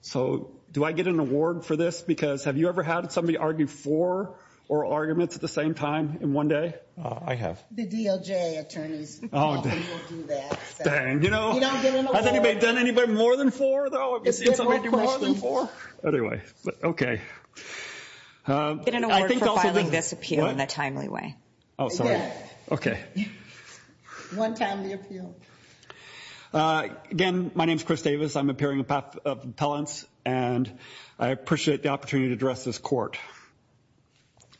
So, do I get an award for this? Because have you ever had somebody argue four oral arguments at the same time in one day? I have. The DOJ attorneys often will do that. Dang, you know, has anybody done more than four though? I've never seen somebody do more than four. Anyway, but okay. I think I'll still get an award for filing one time the appeal. Again, my name is Chris Davis. I'm appearing in path of appellants, and I appreciate the opportunity to address this court.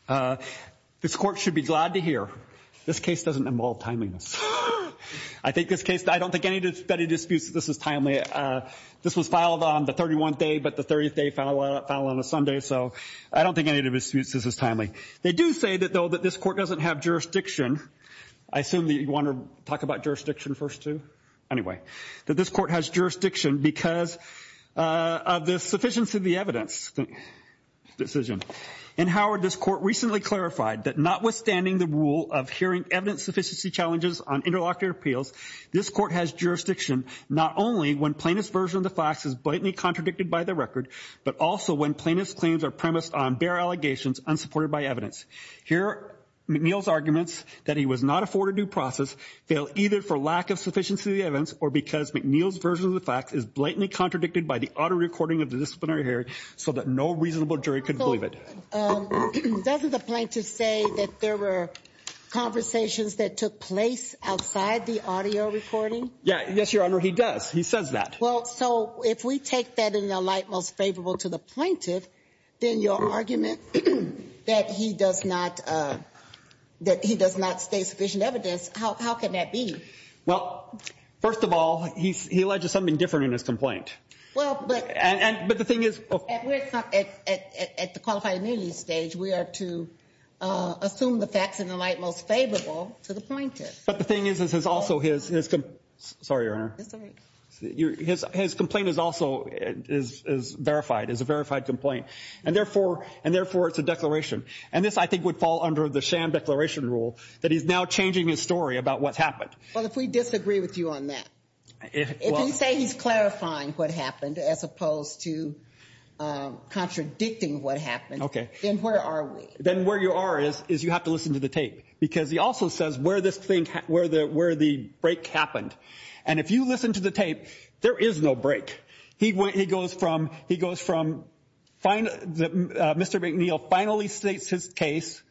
This court should be glad to hear this case doesn't involve timeliness. I think this case, I don't think anybody disputes that this is timely. This was filed on the 31st day, but the 30th day filed on a Sunday. So I don't think any of the disputes, this is timely. They do say that though that this court doesn't have jurisdiction, I assume that you want to talk about jurisdiction first too? Anyway, that this court has jurisdiction because of the sufficiency of the evidence decision. In Howard, this court recently clarified that notwithstanding the rule of hearing evidence sufficiency challenges on interlocutor appeals, this court has jurisdiction not only when plaintiff's version of the facts is blatantly contradicted by the record, but also when plaintiff's claims are premised on bare allegations unsupported by evidence. Here McNeil's arguments that he was not afforded due process fail either for lack of sufficiency of the evidence or because McNeil's version of the facts is blatantly contradicted by the auto recording of the disciplinary hearing so that no reasonable jury could believe it. Doesn't the plaintiff say that there were conversations that took place outside the audio recording? Yes, your honor, he does. He says that. Well, so if we take that in the light most favorable to the plaintiff, then your argument that he does not state sufficient evidence, how can that be? Well, first of all, he alleges something different in his complaint. But the thing is... At the qualified immunity stage, we are to assume the facts in the light most favorable to the plaintiff. But the thing is, this is also his... Sorry, your honor. His complaint is also verified, is a verified complaint, and therefore it's a declaration. And this, I think, would fall under the sham declaration rule that he's now changing his story about what's happened. Well, if we disagree with you on that, if you say he's clarifying what happened as opposed to contradicting what happened, then where are we? Then where you are is you have to listen to the tape, because he also says where this thing, where the break happened. And if you listen to the tape, there is no break. He goes from... Mr. McNeil finally states his case,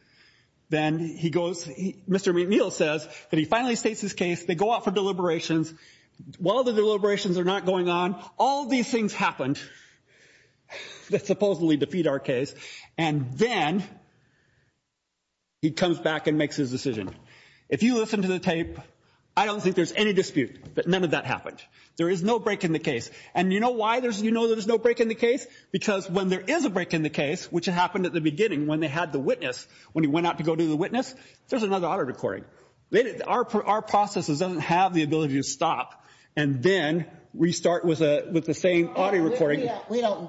then he goes... Mr. McNeil says that he finally states his case, they go out for deliberations, while the deliberations are not going on, all these things happened that supposedly defeat our case. And then he comes back and makes his decision. If you listen to the tape, I don't think there's any dispute that none of that happened. There is no break in the case. And you know why there's no break in the case? Because when there is a break in the case, which happened at the beginning when they had the witness, when he went out to go to the witness, there's another audio recording. Our process doesn't have the ability to stop and then restart with the same audio recording.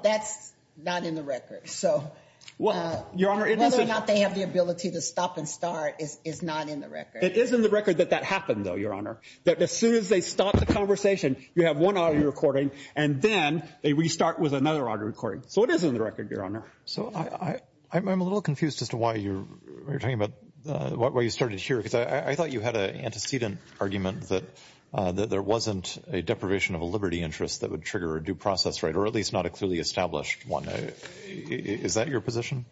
That's not in the record. So whether or not they have the ability to stop and start is not in the record. It is in the record that that happened, though, Your Honor, that as soon as they stop the conversation, you have one audio recording, and then they restart with another audio recording. So it is in the record, Your Honor. So I'm a little confused as to why you're talking about, why you started here, because I thought you had an antecedent argument that there wasn't a deprivation of liberty interest that would trigger a due process right, or at least not a clearly established one. Is that your position?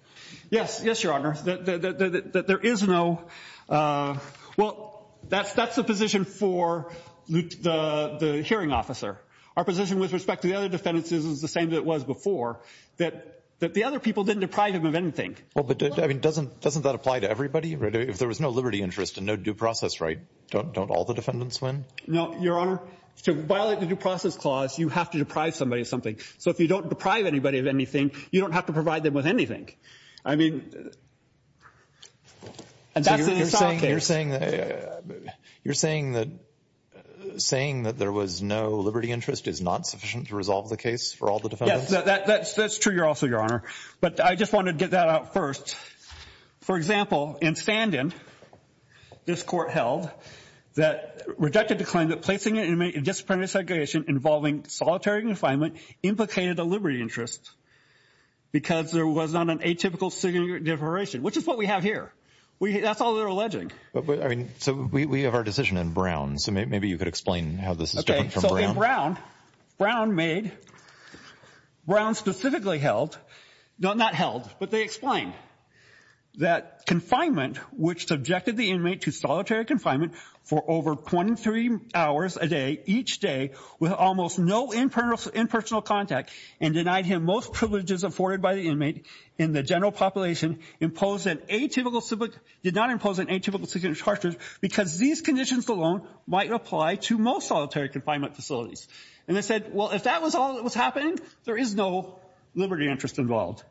Yes. Yes, Your Honor. That there is no, well, that's the position for the hearing officer. Our position with respect to the other defendants is the same that it was before, that the other people didn't deprive him of anything. Well, but doesn't that apply to everybody? If there was no liberty interest and no due process right, don't all the defendants win? No, Your Honor. To violate the due process clause, you have to deprive somebody of something. So if you don't deprive anybody of anything, you don't have to provide them with anything. I mean, and that's an assault case. You're saying that there was no liberty interest is not sufficient to resolve the case for all the defendants? Yes, that's true also, Your Honor. But I just wanted to get that out first. For example, in Sandin, this court held that, rejected the claim that placing an inmate in disciplinary segregation involving solitary confinement implicated a liberty interest because there was not an atypical separation, which is what we have here. That's all they're alleging. But, I mean, so we have our decision in Brown. So maybe you could explain how this is different from Brown. In Brown, Brown made, Brown specifically held, not held, but they explained that confinement, which subjected the inmate to solitary confinement for over 23 hours a day, each day, with almost no impersonal contact, and denied him most privileges afforded by the inmate in the general population, imposed an atypical, did not impose an atypical segregation of charges because these conditions alone might apply to most solitary confinement facilities. And they said, well, if that was all that was happening, there is no liberty interest involved.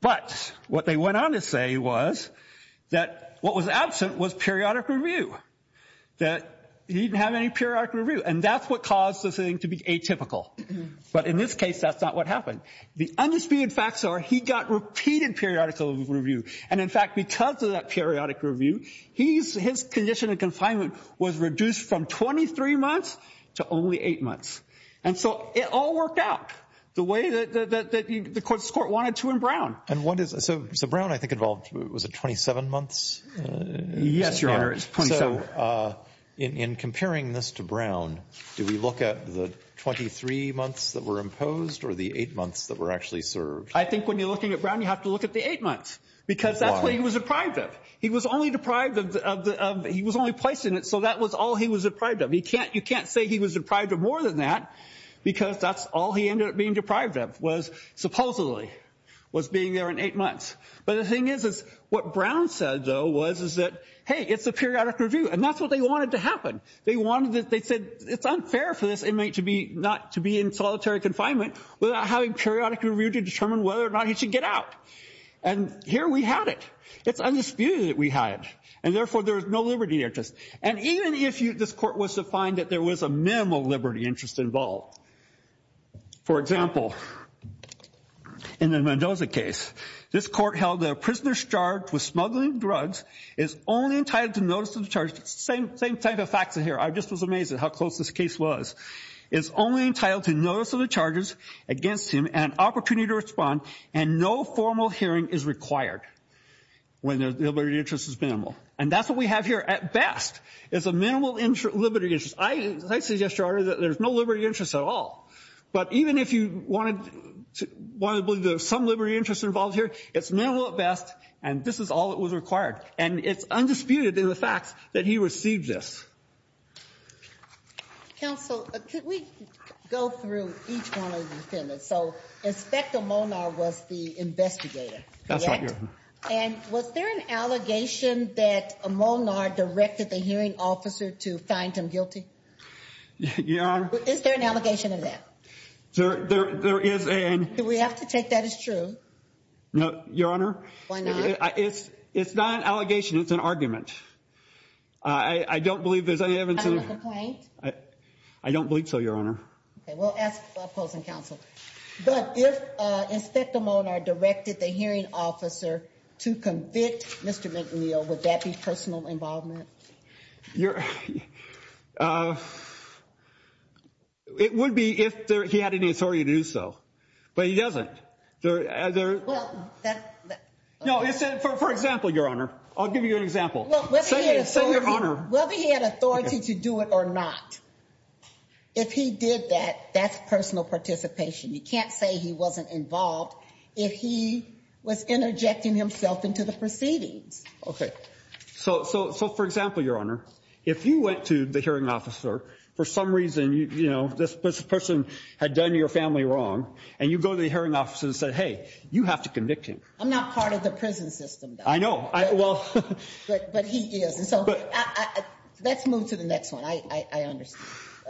But what they went on to say was that what was absent was periodic review, that he didn't have any periodic review. And that's what caused the thing to be atypical. But in this case, that's not what happened. The undisputed facts are he got repeated periodic review. And in fact, because of that periodic review, he's, his condition of confinement was reduced from 23 months to only eight months. And so it all worked out the way that the court wanted to in Brown. And what is, so Brown, I think, involved, was it 27 months? Yes, Your Honor, it's 27. In comparing this to Brown, do we look at the 23 months that were imposed or the eight months that were actually served? I think when you're looking at Brown, you have to look at the eight months because that's what he was deprived of. He was only deprived of, he was only placed in it. So that was all he was deprived of. He can't, you can't say he was deprived of more than that because that's all he ended up being deprived of was supposedly was being there in eight months. But the thing is, is what Brown said, though, was, is that, hey, it's a periodic review. And that's what they wanted to happen. They wanted, they said it's unfair for this inmate to be, not to be in solitary confinement without having periodic review to determine whether or not he should get out. And here we had it. It's undisputed that we had it. And therefore, there is no liberty interest. And even if you, this court was to find that there was a minimal liberty interest involved. For example, in the Mendoza case, this court held that a prisoner charged with smuggling drugs is only entitled to notice of the charge. Same, same type of facts in here. I just was amazed at how close this case was. It's only entitled to notice of the charges against him and an opportunity to respond. And no formal hearing is required when their liberty interest is minimal. And that's what we have here. At best, it's a minimal liberty interest. I, as I said yesterday, there's no liberty interest at all. But even if you wanted to, wanted to believe there was some liberty interest involved here, it's minimal at best. And this is all that was required. And it's undisputed in the facts that he received this. Counsel, could we go through each one of the defendants? So, Inspector Molnar was the investigator, correct? That's right, Your Honor. And was there an allegation that Molnar directed the hearing officer to find him guilty? Your Honor? Is there an allegation of that? There is a... Do we have to take that as true? Your Honor? Why not? It's, it's not an allegation. It's an argument. I don't believe there's any evidence of... I don't believe so, Your Honor. Okay, we'll ask the opposing counsel. But if Inspector Molnar directed the hearing officer to convict Mr. McNeil, would that be personal involvement? It would be if he had any authority to do so. But he doesn't. Well, that... No, for example, Your Honor. I'll give you an example. Well, whether he had authority to do it or not, if he did that, that's personal participation. You can't say he wasn't involved if he was interjecting himself into the proceedings. Okay. So, for example, Your Honor, if you went to the hearing officer, for some reason, you know, this person had done your family wrong, and you go to the hearing officer and said, hey, you have to convict him. I'm not part of the prison system, though. I know. Well... But he is. And so, let's move to the next one. I understand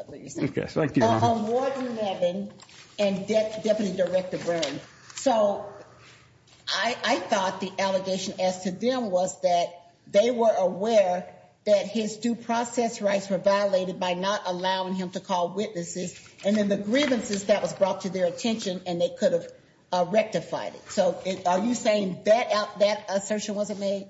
what you're saying. Okay. Thank you, Your Honor. On Warden Levin and Deputy Director Byrne. So, I thought the allegation as to them was that they were aware that his due process rights were violated by not allowing him to call witnesses, and then the grievances, that was brought to their attention, and they could have rectified it. So, are you saying that assertion wasn't made?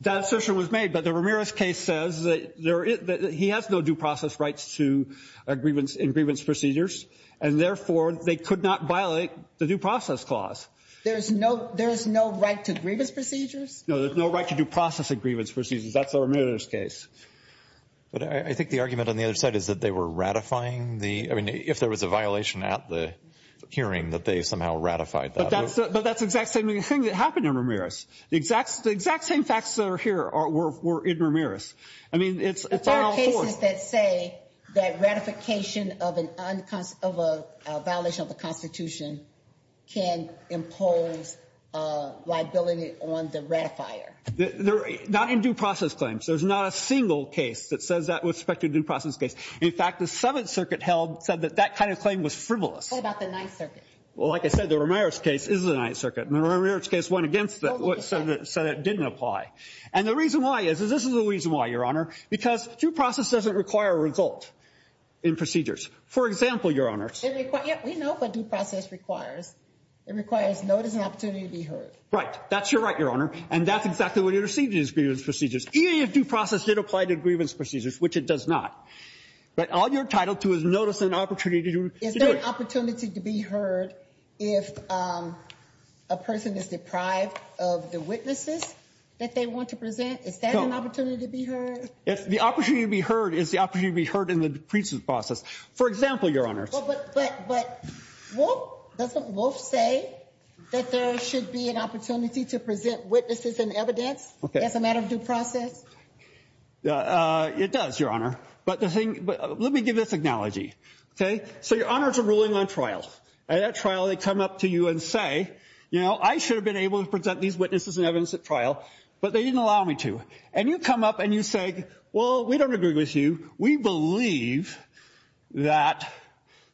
That assertion was made, but the Ramirez case says that he has no due process rights in grievance procedures, and therefore, they could not violate the due process clause. There's no right to grievance procedures? No, there's no right to due process in grievance procedures. That's the Ramirez case. But I think the argument on the other side is that they were ratifying the, I mean, if there was a violation at the hearing, that they somehow ratified that. But that's the exact same thing that happened in Ramirez. The exact same facts that are here were in Ramirez. I mean, it's unlawful. There are cases that say that ratification of a violation of the Constitution can impose liability on the ratifier. Not in due process claims. There's not a single case that says that with respect to a due process case. In fact, the Seventh Circuit said that that kind of claim was frivolous. What about the Ninth Circuit? Well, like I said, the Ramirez case is the Ninth Circuit, and the Ramirez case went against it, so that didn't apply. And the reason why is, this is the reason why, Your Honor, because due process doesn't require a result in procedures. For example, Your Honor. We know what due process requires. It requires notice and opportunity to be heard. Right. That's your right, Your Honor. And that's exactly what intercedes in these grievance procedures. Even if due process did apply to grievance procedures, which it does not. But all you're entitled to is notice and opportunity to do it. Is there an opportunity to be heard if a person is deprived of the witnesses that they want to present? Is that an opportunity to be heard? The opportunity to be heard is the opportunity to be heard in the pre-trial process. For example, Your Honor. But Wolf, doesn't Wolf say that there should be an opportunity to present witnesses and evidence as a matter of due process? It does, Your Honor. But let me give this analogy. So Your Honors are ruling on trial. At that trial, they come up to you and say, you know, I should have been able to present these witnesses and evidence at trial, but they didn't allow me to. And you come up and you say, well, we don't agree with you. We believe that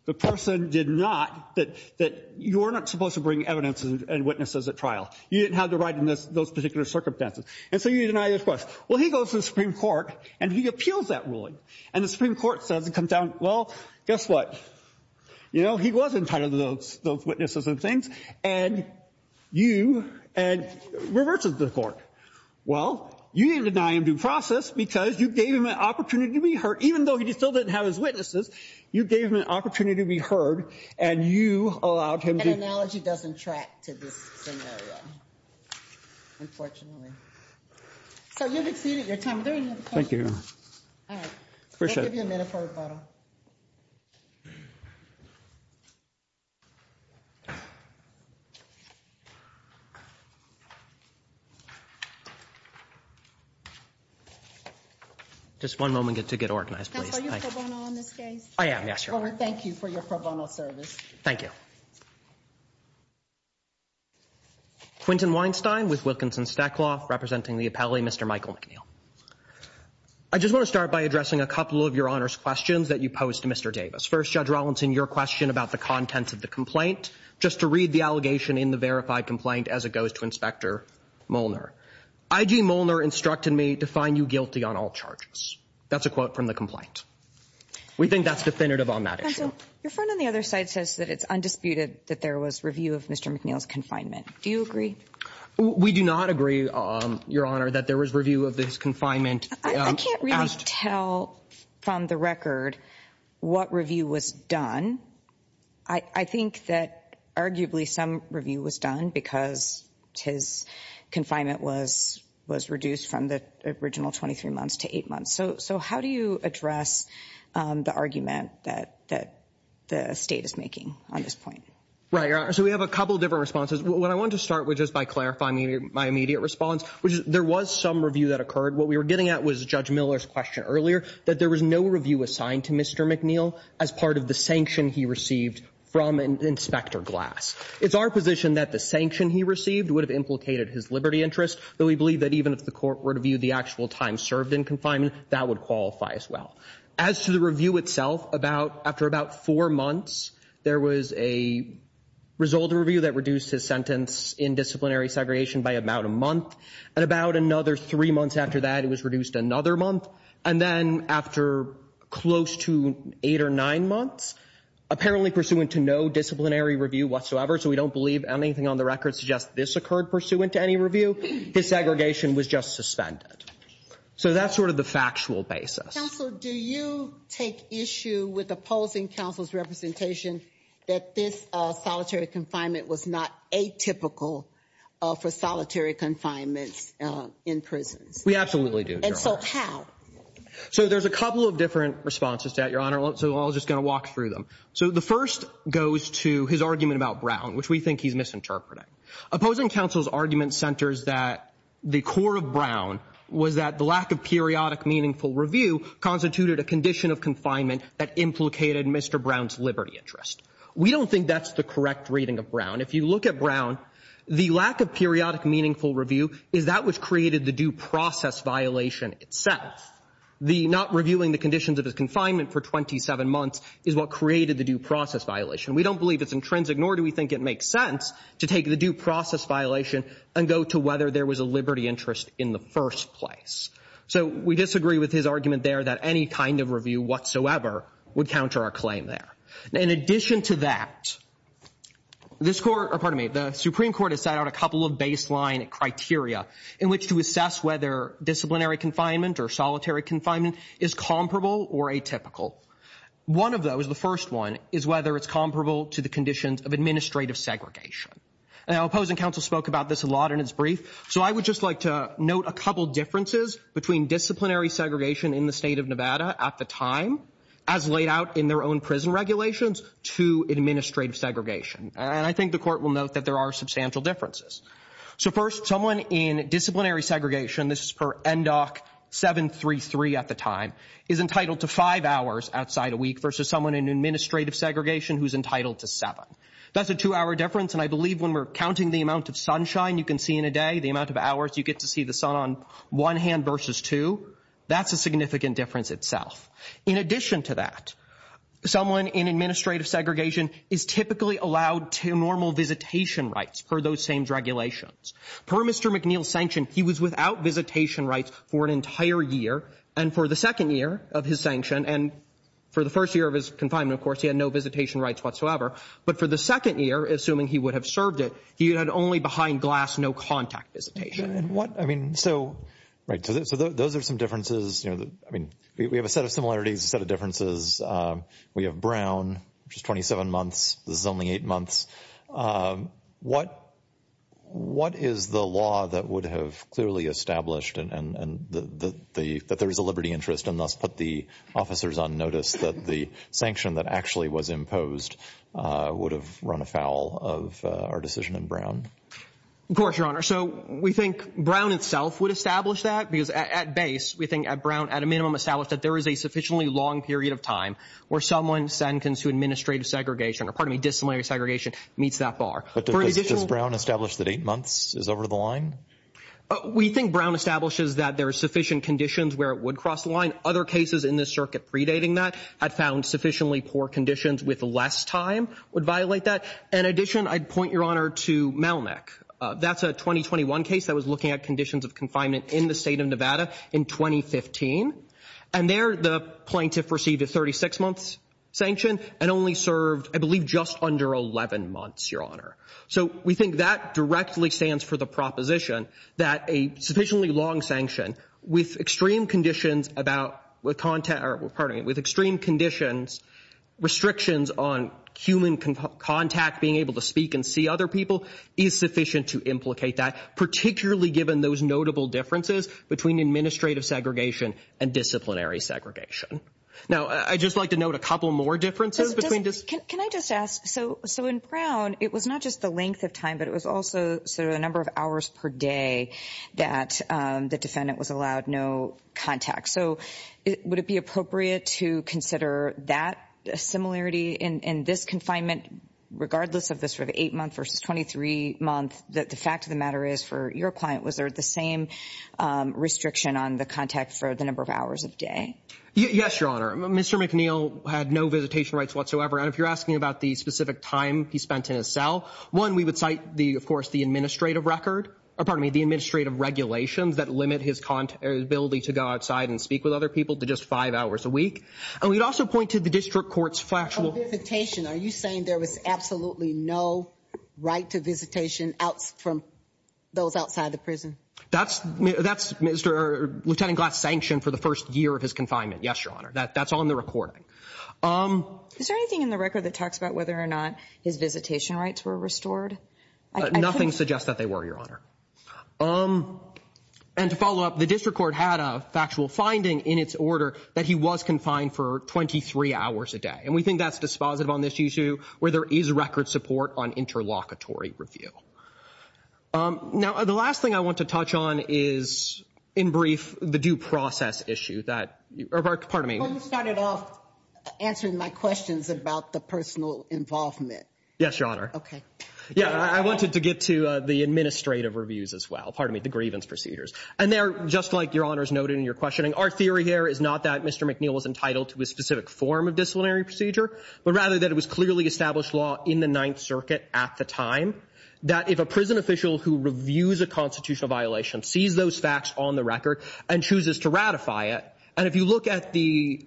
the person did not, that you're not supposed to bring evidence and witnesses at trial. You didn't have the right in those particular circumstances. And so you deny this question. Well, he goes to the Supreme Court and he appeals that ruling. And the Supreme Court says, well, guess what? You know, he wasn't part of those witnesses and things. And you, and reverts to the court. Well, you didn't deny him due process because you gave him an opportunity to be heard. Even though he still didn't have his witnesses, you gave him an opportunity to be heard and you allowed him to. An analogy doesn't track to this scenario, unfortunately. So you've exceeded your time. Are there any other questions? Thank you, Your Honor. All right. We'll give you a minute for rebuttal. Just one moment to get organized, please. Are you pro bono in this case? I am. Yes, Your Honor. Well, we thank you for your pro bono service. Thank you. Quinton Weinstein with Wilkinson Stackloff representing the appellee, Mr. Michael McNeil. I just want to start by addressing a couple of Your Honor's questions that you posed to Mr. Davis. First, Judge Rawlinson, your question about the contents of the complaint. Just to read the allegation in the verified complaint as it goes to Inspector Molnar. I.G. Molnar instructed me to find you guilty on all charges. That's a quote from the complaint. We think that's definitive on that issue. Counsel, your friend on the other side says that it's undisputed that there was review of Mr. McNeil's confinement. Do you agree? We do not agree, Your Honor, that there was review of his confinement. I can't really tell from the record what review was done. I think that arguably some review was done because his confinement was reduced from the original 23 months to eight months. So how do you address the argument that the state is making on this point? Right, Your Honor. So we have a couple of different responses. What I want to start with just by clarifying my immediate response, which is there was some review that occurred. What we were getting at was Judge Miller's question earlier, that there was no review assigned to Mr. McNeil as part of the sanction he received from Inspector Glass. It's our position that the sanction he received would have implicated his liberty interest, though we believe that even if the court were to view the actual time served in confinement, that would qualify as well. As to the review itself, after about four months, there was a result of review that reduced his sentence in disciplinary segregation by about a month. And about another three months after that, it was reduced another month. And then after close to eight or nine months, apparently pursuant to no disciplinary review whatsoever, so we don't believe anything on the record suggests this occurred pursuant to any review, his segregation was just suspended. So that's sort of the factual basis. Counsel, do you take issue with opposing counsel's representation that this solitary confinement was not atypical for solitary confinements in prisons? We absolutely do, Your Honor. And so how? So there's a couple of different responses to that, Your Honor. So I'm just going to walk through them. So the first goes to his argument about Brown, which we think he's misinterpreting. Opposing counsel's argument centers that the core of Brown was that the lack of periodic meaningful review constituted a condition of confinement that implicated Mr. Brown's liberty interest. We don't think that's the correct reading of Brown. If you look at Brown, the lack of periodic meaningful review is that which created the due process violation itself. The not reviewing the conditions of his confinement for 27 months is what created the due process violation. We don't believe it's intrinsic, nor do we think it makes sense to take the due process violation and go to whether there was a liberty interest in the first place. So we disagree with his argument there that any kind of review whatsoever would counter our claim there. In addition to that, the Supreme Court has set out a couple of baseline criteria in which to assess whether disciplinary confinement or solitary confinement is comparable or atypical. One of those, the first one, is whether it's comparable to the conditions of administrative segregation. Now, opposing counsel spoke about this a lot in his brief, so I would just like to note a couple differences between disciplinary segregation in the state of Nevada at the time, as laid out in their own prison regulations, to administrative segregation. And I think the court will note that there are substantial differences. So first, someone in disciplinary segregation, this is per NDOC 733 at the time, is entitled to five hours outside a week versus someone in administrative segregation who's entitled to seven. That's a two-hour difference, and I believe when we're counting the amount of sunshine you can see in a day, the amount of hours you get to see the sun on one hand versus two, that's a significant difference itself. In addition to that, someone in administrative segregation is typically allowed normal visitation rights for those same regulations. Per Mr. McNeil's sanction, he was without visitation rights for an entire year, and for the second year of his sanction, and for the first year of his confinement, of course, he had no visitation rights whatsoever. But for the second year, assuming he would have served it, he had only behind-glass, no-contact visitation. So those are some differences. We have a set of similarities, a set of differences. We have Brown, which is 27 months. This is only eight months. What is the law that would have clearly established that there is a liberty interest and thus put the officers on notice that the sanction that actually was imposed would have run afoul of our decision in Brown? Of course, Your Honor. So we think Brown itself would establish that, because at base, we think at Brown, at a minimum, establish that there is a sufficiently long period of time where someone sentenced to administrative segregation, or pardon me, disciplinary segregation, meets that bar. But does Brown establish that eight months is over the line? We think Brown establishes that there are sufficient conditions where it would cross the line. Other cases in this circuit predating that had found sufficiently poor conditions with less time would violate that. In addition, I'd point, Your Honor, to Melnick. That's a 2021 case that was looking at conditions of confinement in the state of Nevada in 2015. And there, the plaintiff received a 36-month sanction and only served, I believe, just under 11 months, Your Honor. So we think that directly stands for the proposition that a sufficiently long sanction with extreme conditions restrictions on human contact, being able to speak and see other people, is sufficient to implicate that, particularly given those notable differences between administrative segregation and disciplinary segregation. Now, I'd just like to note a couple more differences. Can I just ask? So in Brown, it was not just the length of time, but it was also sort of the number of hours per day that the defendant was allowed no contact. So would it be appropriate to consider that similarity in this confinement, regardless of the sort of eight-month versus 23-month, that the fact of the matter is for your client, was there the same restriction on the contact for the number of hours of day? Yes, Your Honor. Mr. McNeil had no visitation rights whatsoever. And if you're asking about the specific time he spent in his cell, one, we would cite, of course, the administrative record, or pardon me, the administrative regulations that limit his ability to go outside and speak with other people to just five hours a week. And we'd also point to the district court's factual— Oh, visitation. Are you saying there was absolutely no right to visitation from those outside the prison? That's Lieutenant Glass' sanction for the first year of his confinement. Yes, Your Honor. That's on the recording. Is there anything in the record that talks about whether or not his visitation rights were restored? Nothing suggests that they were, Your Honor. And to follow up, the district court had a factual finding in its order that he was confined for 23 hours a day. And we think that's dispositive on this issue where there is record support on interlocutory review. Now, the last thing I want to touch on is, in brief, the due process issue that—or, pardon me. Well, you started off answering my questions about the personal involvement. Yes, Your Honor. Okay. Yeah, I wanted to get to the administrative reviews as well—pardon me, the grievance procedures. And they are, just like Your Honor has noted in your questioning, our theory here is not that Mr. McNeil was entitled to a specific form of disciplinary procedure, but rather that it was clearly established law in the Ninth Circuit at the time that if a prison official who reviews a constitutional violation sees those facts on the record and chooses to ratify it, and if you look at the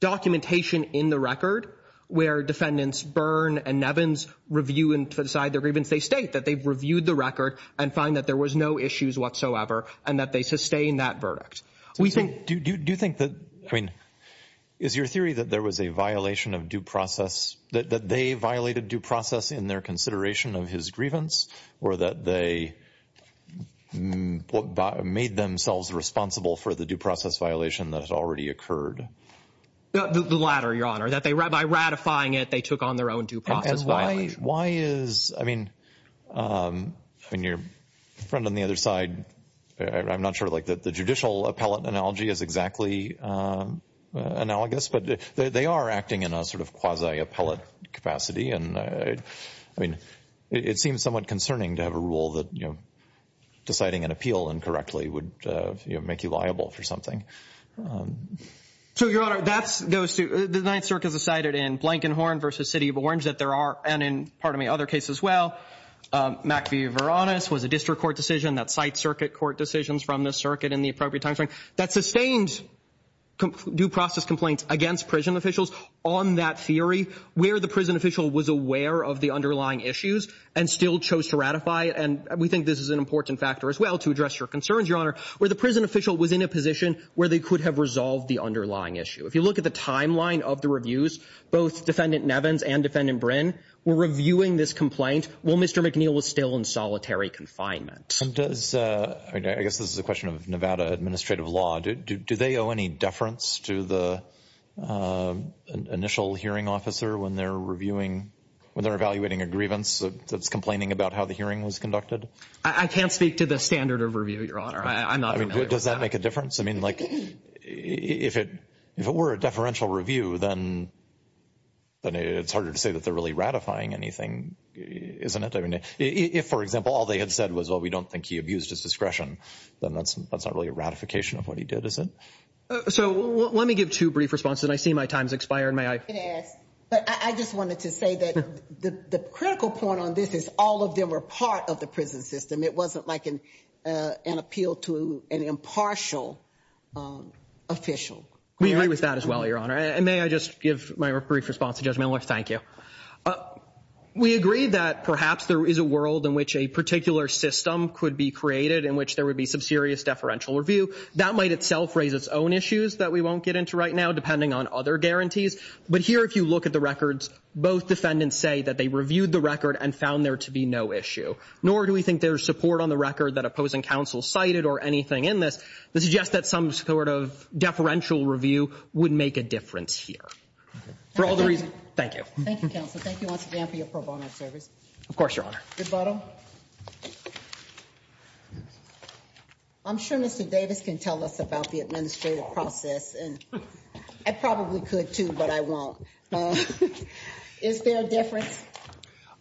documentation in the record where defendants Byrne and Nevins review and decide their grievance, they state that they've reviewed the record and find that there was no issues whatsoever and that they sustain that verdict. Do you think that—I mean, is your theory that there was a violation of due process, that they violated due process in their consideration of his grievance, or that they made themselves responsible for the due process violation that had already occurred? The latter, Your Honor. By ratifying it, they took on their own due process violation. Why is—I mean, your friend on the other side, I'm not sure, like, the judicial appellate analogy is exactly analogous, but they are acting in a sort of quasi-appellate capacity. And, I mean, it seems somewhat concerning to have a rule that, you know, deciding an appeal incorrectly would make you liable for something. So, Your Honor, that goes to—the Ninth Circuit has decided in Blankenhorn v. City of Orange that there are— and in, pardon me, other cases as well—Mack v. Varonis was a district court decision that cites circuit court decisions from the circuit in the appropriate timeframe that sustained due process complaints against prison officials on that theory, where the prison official was aware of the underlying issues and still chose to ratify it. And we think this is an important factor as well to address your concerns, Your Honor, where the prison official was in a position where they could have resolved the underlying issue. If you look at the timeline of the reviews, both Defendant Nevins and Defendant Brin were reviewing this complaint while Mr. McNeil was still in solitary confinement. And does—I guess this is a question of Nevada administrative law. Do they owe any deference to the initial hearing officer when they're reviewing— when they're evaluating a grievance that's complaining about how the hearing was conducted? I can't speak to the standard of review, Your Honor. I'm not familiar with that. I mean, does that make a difference? I mean, like, if it were a deferential review, then it's harder to say that they're really ratifying anything, isn't it? I mean, if, for example, all they had said was, well, we don't think he abused his discretion, then that's not really a ratification of what he did, is it? So let me give two brief responses, and I see my time's expiring. May I? But I just wanted to say that the critical point on this is all of them were part of the prison system. It wasn't like an appeal to an impartial official. We agree with that as well, Your Honor. And may I just give my brief response to Judge Miller? Thank you. We agree that perhaps there is a world in which a particular system could be created in which there would be some serious deferential review. That might itself raise its own issues that we won't get into right now, depending on other guarantees. But here, if you look at the records, both defendants say that they reviewed the record and found there to be no issue. Nor do we think there's support on the record that opposing counsel cited or anything in this that suggests that some sort of deferential review would make a difference here. Thank you. Thank you, counsel. Thank you once again for your pro bono service. Of course, Your Honor. Good bottle. I'm sure Mr. Davis can tell us about the administrative process, and I probably could too, but I won't. Is there a difference?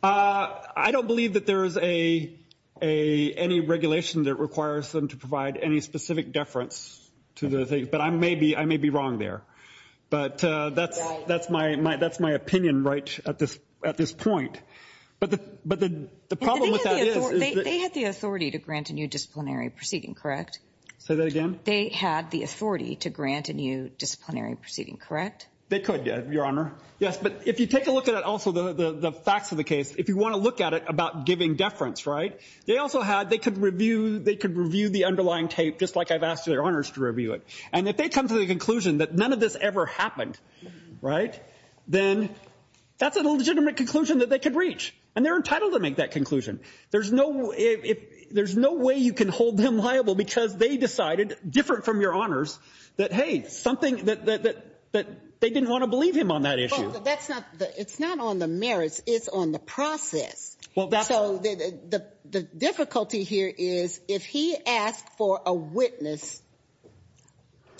I don't believe that there is any regulation that requires them to provide any specific deference to the things, but I may be wrong there. But that's my opinion right at this point. But the problem with that is that they had the authority to grant a new disciplinary proceeding, correct? Say that again? They had the authority to grant a new disciplinary proceeding, correct? They could, Your Honor. Yes, but if you take a look at it also, the facts of the case, if you want to look at it about giving deference, right? They also had, they could review the underlying tape just like I've asked their honors to review it. And if they come to the conclusion that none of this ever happened, right, then that's a legitimate conclusion that they could reach, and they're entitled to make that conclusion. There's no way you can hold them liable because they decided, different from your honors, that, hey, something that they didn't want to believe him on that issue. But that's not, it's not on the merits. It's on the process. So the difficulty here is if he asked for a witness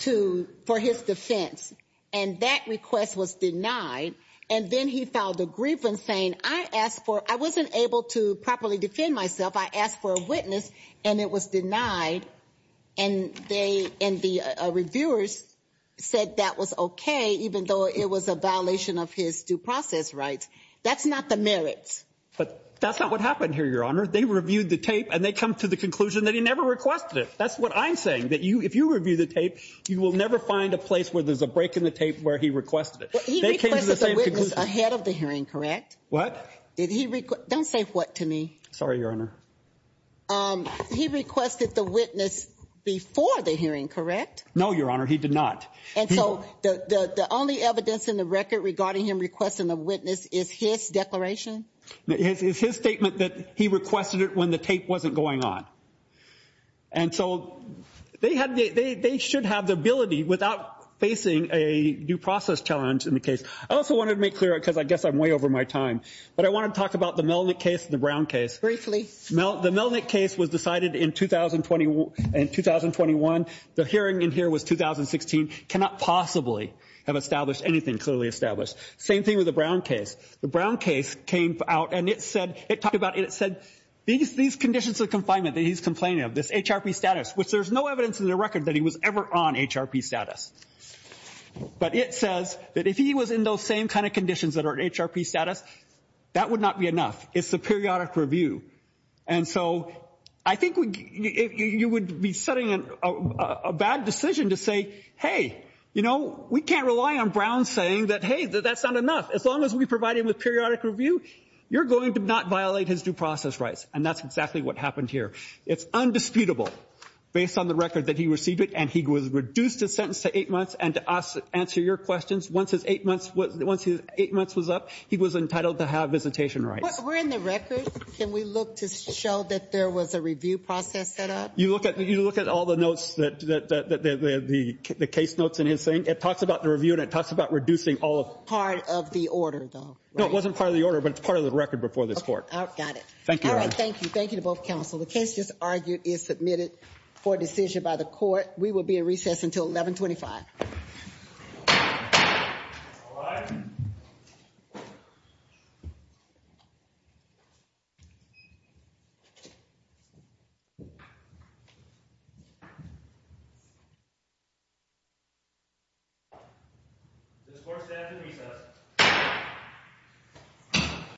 to, for his defense, and that request was denied, and then he filed a grievance saying, I asked for, I wasn't able to properly defend myself. I asked for a witness, and it was denied. And they, and the reviewers said that was okay, even though it was a violation of his due process rights. That's not the merits. But that's not what happened here, Your Honor. They reviewed the tape, and they come to the conclusion that he never requested it. That's what I'm saying, that if you review the tape, you will never find a place where there's a break in the tape where he requested it. They came to the same conclusion. He requested a witness ahead of the hearing, correct? What? Did he, don't say what to me. Sorry, Your Honor. He requested the witness before the hearing, correct? No, Your Honor, he did not. And so the only evidence in the record regarding him requesting a witness is his declaration? It's his statement that he requested it when the tape wasn't going on. And so they had, they should have the ability without facing a due process challenge in the case. I also wanted to make clear, because I guess I'm way over my time, but I wanted to talk about the Melvin case and the Brown case. Briefly. The Melvin case was decided in 2021. The hearing in here was 2016. Cannot possibly have established anything clearly established. Same thing with the Brown case. The Brown case came out, and it said, it talked about, it said these conditions of confinement that he's complaining of, this HRP status, which there's no evidence in the record that he was ever on HRP status. But it says that if he was in those same kind of conditions that are HRP status, that would not be enough. It's the periodic review. And so I think you would be setting a bad decision to say, hey, you know, we can't rely on Brown saying that, hey, that's not enough. As long as we provide him with periodic review, you're going to not violate his due process rights. And that's exactly what happened here. It's undisputable based on the record that he received it, and he was reduced to sentence to eight months. And to answer your questions, once his eight months was up, he was entitled to have visitation rights. We're in the record. Can we look to show that there was a review process set up? You look at all the notes, the case notes in his thing. It talks about the review, and it talks about reducing all of it. Part of the order, though, right? No, it wasn't part of the order, but it's part of the record before this court. Got it. Thank you. All right, thank you. Thank you to both counsel. The case just argued is submitted for decision by the court. We will be in recess until 1125. All rise. This court stands in recess.